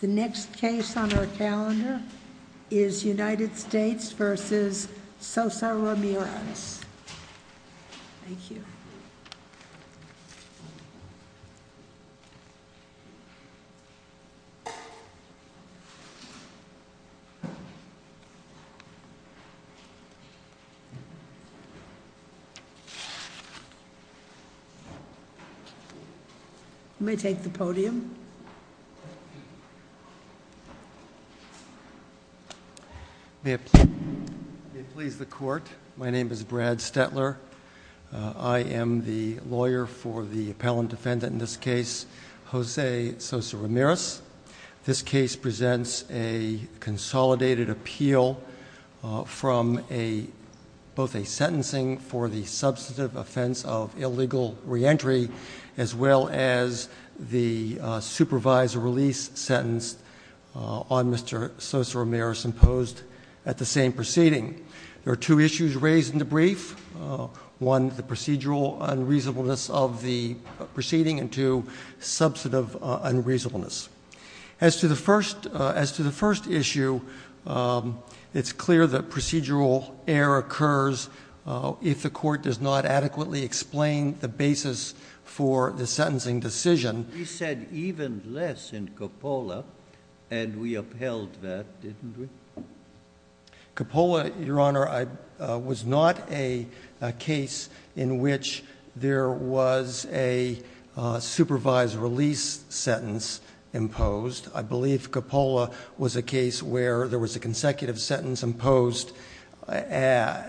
the next case on our calendar is United States v. Sosa Ramirez. Thank you. You may take the podium. May it please the Court, my name is Brad Stetler. I am the lawyer for the appellant defendant in this case, Jose Sosa Ramirez. This case presents a consolidated appeal from both a release sentence on Mr. Sosa Ramirez imposed at the same proceeding. There are two issues raised in the brief. One, the procedural unreasonableness of the proceeding, and two, substantive unreasonableness. As to the first issue, it's clear that procedural error occurs if the Court does not adequately explain the basis for the sentencing decision. You said even less in Coppola, and we upheld that, didn't we? Coppola, Your Honor, was not a case in which there was a supervised release sentence imposed. I believe Coppola was a case where there was a consecutive sentence imposed in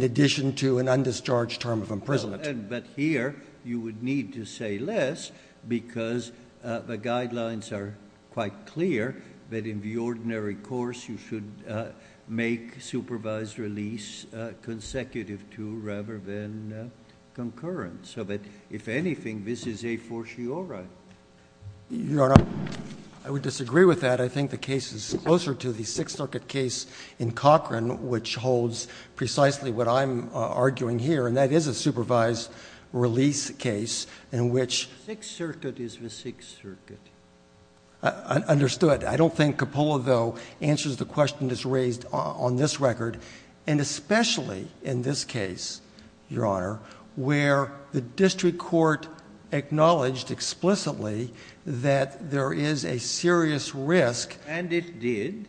addition to an undischarged term of imprisonment. But here, you would need to say less because the guidelines are quite clear that in the ordinary course, you should make supervised release consecutive to rather than concurrent. So that, if anything, this is a fortiori. Your Honor, I would disagree with that. I think the case is closer to the Sixth Circuit case in Cochran, which holds precisely what I'm arguing here, and that is a supervised release case in which the Sixth Circuit is the Sixth Circuit. Understood. I don't think Coppola, though, answers the question that's raised on this record, and especially in this case, Your Honor, where the district court acknowledged explicitly that there is a serious risk. And it did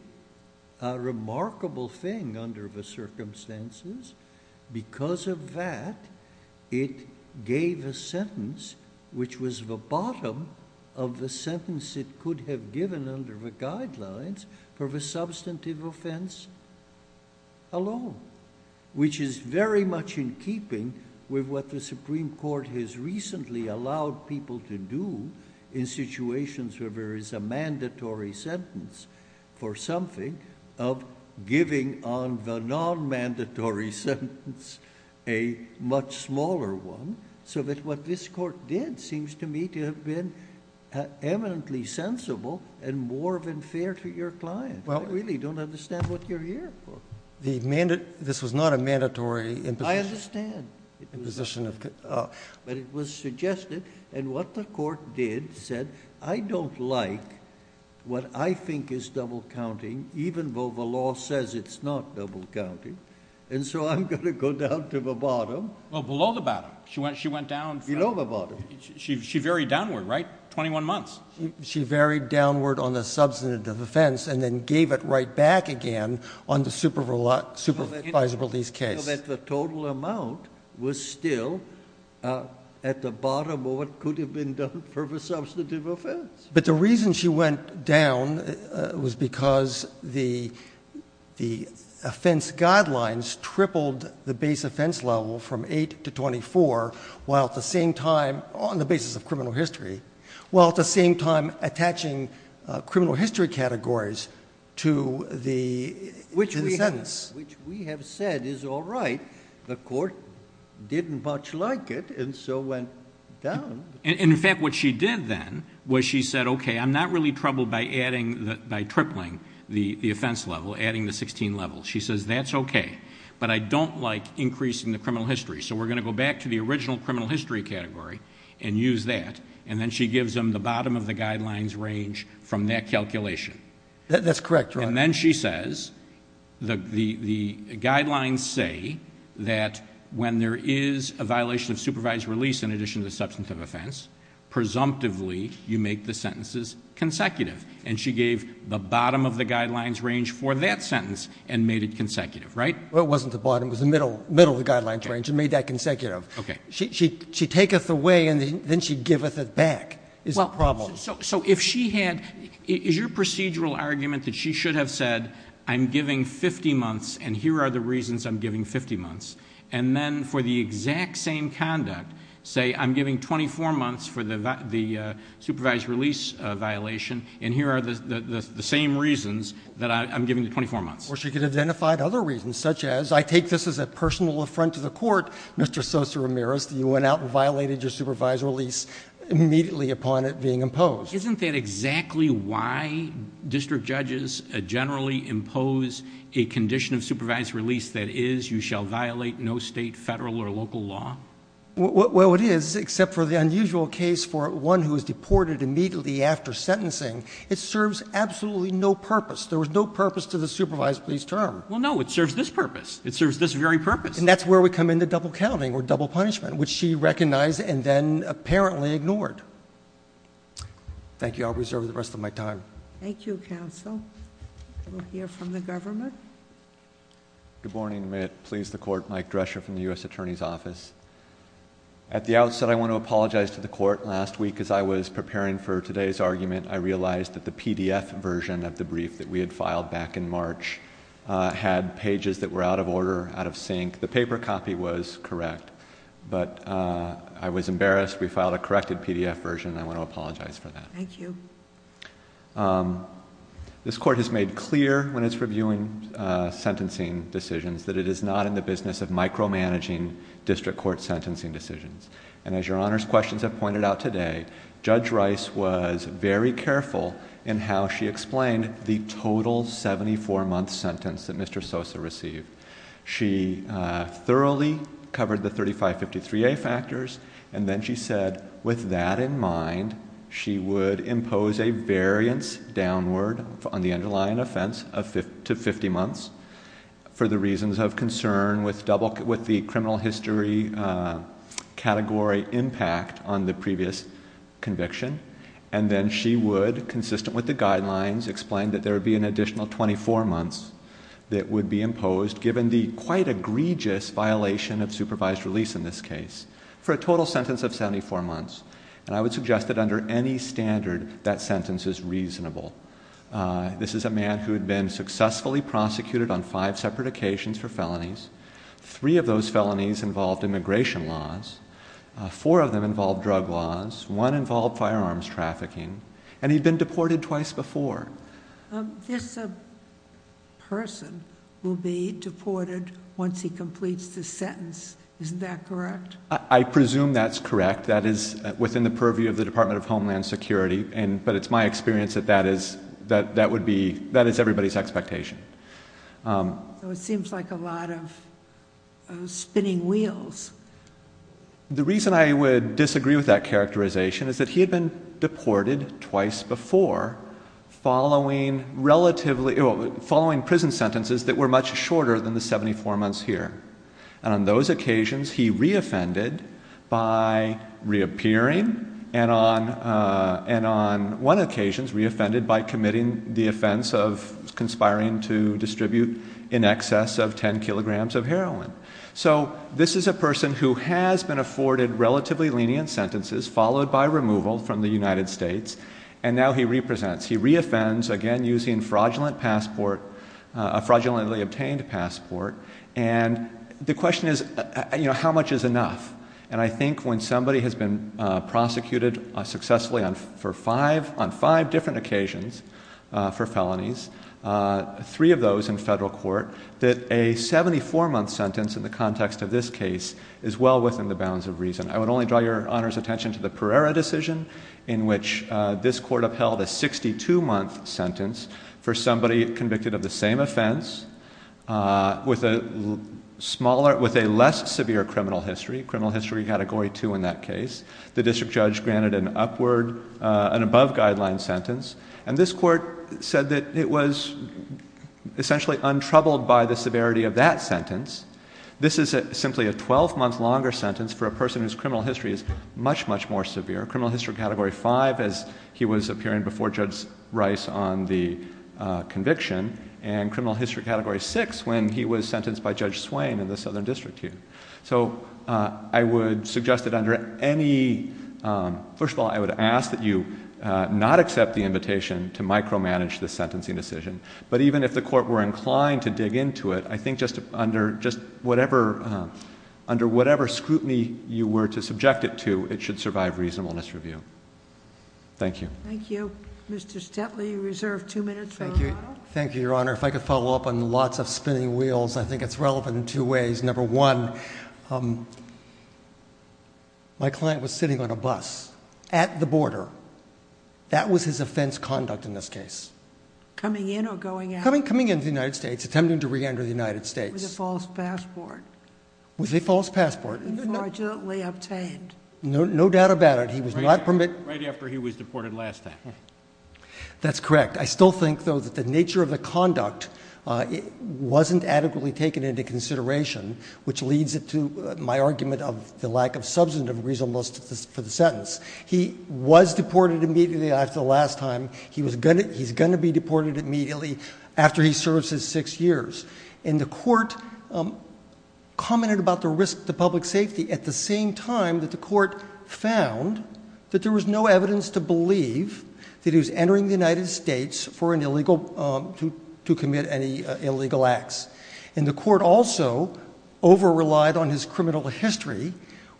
a remarkable thing under the circumstances. Because of that, it gave a sentence which was the bottom of the sentence it could have given under the guidelines for the substantive offense alone, which is very much in keeping with what the Supreme Court has recently allowed people to do in situations where there is a mandatory sentence for something of giving on the non-mandatory sentence a much smaller one, so that what this Court did seems to me to have been eminently sensible and more than fair to your client. I really don't understand what you're here for. This was not a mandatory imposition. I understand. But it was suggested, and what the Court did said, I don't like what I think is double counting, even though the law says it's not double counting, and so I'm going to go down to the bottom. Well, below the bottom. She went down from... Below the bottom. She varied downward, right? Twenty-one months. She varied downward on the substantive offense and then gave it right back again on the supervisability's case. So that the total amount was still at the bottom of what could have been done for the substantive offense. But the reason she went down was because the offense guidelines tripled the base offense level from 8 to 24, while at the same time, on the basis of criminal history, while at the same time attaching criminal history categories to the... To the sentence. Which we have said is all right. The Court didn't much like it, and so went down. In fact, what she did then was she said, okay, I'm not really troubled by tripling the offense level, adding the sixteen levels. She says, that's okay, but I don't like increasing the criminal history, so we're going to go back to the original criminal history category and use that, and then she gives them the bottom of the guidelines range from that calculation. That's correct, Your Honor. And then she says, the guidelines say that when there is a violation of supervised release in addition to the substantive offense, presumptively you make the sentences consecutive. And she gave the bottom of the guidelines range for that sentence and made it consecutive, right? Well, it wasn't the bottom. It was the middle of the guidelines range and made that consecutive. She taketh away and then she giveth it back is the problem. So if she had, is your procedural argument that she should have said, I'm giving fifty months and here are the reasons I'm giving fifty months, and then for the exact same conduct say, I'm giving twenty-four months for the supervised release violation and here are the same reasons that I'm giving the twenty-four months? Or she could have identified other reasons, such as, I take this as a personal affront to the Court, Mr. Sosa-Ramirez. You went out and violated your supervised release immediately upon it being imposed. Isn't that exactly why district judges generally impose a condition of supervised release that is, you shall violate no state, federal, or local law? Well, it is, except for the unusual case for one who was deported immediately after sentencing. It serves absolutely no purpose. There was no purpose to the supervised release term. Well, no, it serves this purpose. It serves this very purpose. And that's where we come into double counting or double punishment, which she recognized and then apparently ignored. Thank you. I'll reserve the rest of my time. Thank you, counsel. We'll hear from the government. Good morning. May it please the Court, Mike Drescher from the U.S. Attorney's Office. At the outset, I want to apologize to the Court. Last week, as I was preparing for today's argument, I realized that the PDF version of the brief that we had filed back in March had pages that were out of order, out of sync. The paper copy was correct, but I was embarrassed. We filed a corrected PDF version. I want to apologize for that. Thank you. This Court has made clear when it's reviewing sentencing decisions that it is not in the business of micromanaging district court sentencing decisions. And as Your Honor's questions have raised, we are very careful in how she explained the total 74-month sentence that Mr. Sosa received. She thoroughly covered the 3553A factors, and then she said with that in mind, she would impose a variance downward on the underlying offense to 50 months for the reasons of concern with the criminal history category impact on the previous conviction. And then she would, consistent with the guidelines, explain that there would be an additional 24 months that would be imposed, given the quite egregious violation of supervised release in this case, for a total sentence of 74 months. And I would suggest that under any standard, that sentence is reasonable. This is a man who had been successfully prosecuted on five separate occasions for felonies. Three of those felonies involved immigration laws. Four of them involved drug laws. One involved firearms trafficking. And he'd been deported twice before. This person will be deported once he completes the sentence. Isn't that correct? I presume that's correct. That is within the purview of the Department of Homeland Security. But it's my experience that that is, that would be, that is everybody's expectation. So it seems like a lot of spinning wheels. The reason I would disagree with that characterization is that he had been deported twice before, following prison sentences that were much shorter than the 74 months here. And on those occasions he re-offended by reappearing, and on one occasion re-offended by committing the offense of conspiring to distribute in excess of 10 kilograms of heroin. So this is a person who has been afforded relatively lenient sentences, followed by removal from the United States, and now he re-presents. He re-offends, again using fraudulent passport, a fraudulently obtained passport. And the question is, you know, how much is enough? And I think when somebody has been prosecuted successfully for five, on five different occasions for felonies, three of those in federal court, that a 74-month sentence in the context of this case is well within the bounds of reason. I would only draw your Honor's attention to the Pereira decision, in which this court upheld a 62-month sentence for somebody convicted of the same offense, with a smaller, with a less severe criminal history, criminal history category 2 in that case. The district judge granted an upward, an above-guideline sentence, and this court said that it was essentially untroubled by the severity of that sentence. This is simply a 12-month longer sentence for a person whose criminal history is much, much more severe, criminal history category 5 as he was appearing before Judge Rice on the conviction, and criminal history category 6 when he was sentenced by Judge Swain in the Southern District here. So I would suggest that under any, first of all, I would ask that you not accept the invitation to micromanage the sentencing decision. But even if the court were inclined to dig into it, I think just under, just whatever, under whatever scrutiny you were to subject it to, it should survive reasonableness review. Thank you. Thank you. Mr. Stetley, you reserve two minutes for your Honor. Thank you. Thank you, Your Honor. If I could follow up on lots of spinning wheels, I think it's relevant in two ways. Number one, my client was sitting on a bus at the border. That was his offense conduct in this case. Coming in or going out? Coming in to the United States, attempting to re-enter the United States. With a false passport. With a false passport. Unfortunately obtained. No doubt about it. He was not permitted. Right after he was deported last time. That's correct. I still think, though, that the nature of the conduct wasn't adequately taken into consideration, which leads to my argument of the lack of substantive reasonableness for the sentence. He was deported immediately after the last time. He's going to be deported immediately after he serves his six years. And the court commented about the risk to public safety at the same time that the court found that there was no evidence to believe that he was entering the United States for an illegal, to commit any illegal acts. And the court also over-relied on his criminal history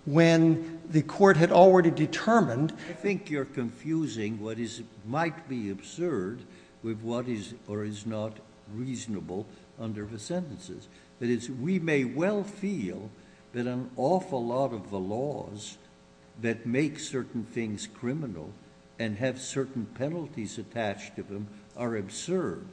when the court had already determined... I think you're confusing what might be absurd with what is or is not reasonable under the sentences. That is, we may well feel that an awful lot of the laws that make certain things criminal and have certain penalties attached to them are absurd.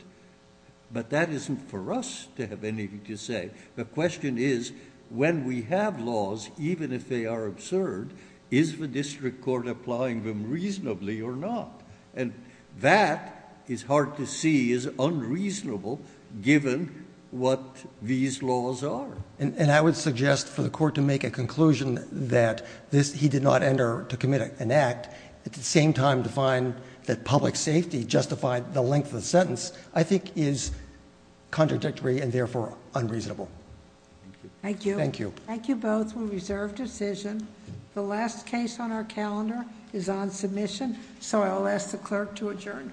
But that isn't for us to have anything to say. The question is, when we have laws, even if they are absurd, is the district court applying them reasonably or not? And that is hard to see as unreasonable given what these laws are. And I would suggest for the court to make a conclusion that he did not enter to commit an act, at the same time to find that public safety justified the length of the sentence, I think is contradictory and therefore unreasonable. Thank you. Thank you both. We reserve decision. The last case on our calendar is on submission, so I'll ask the clerk to adjourn court.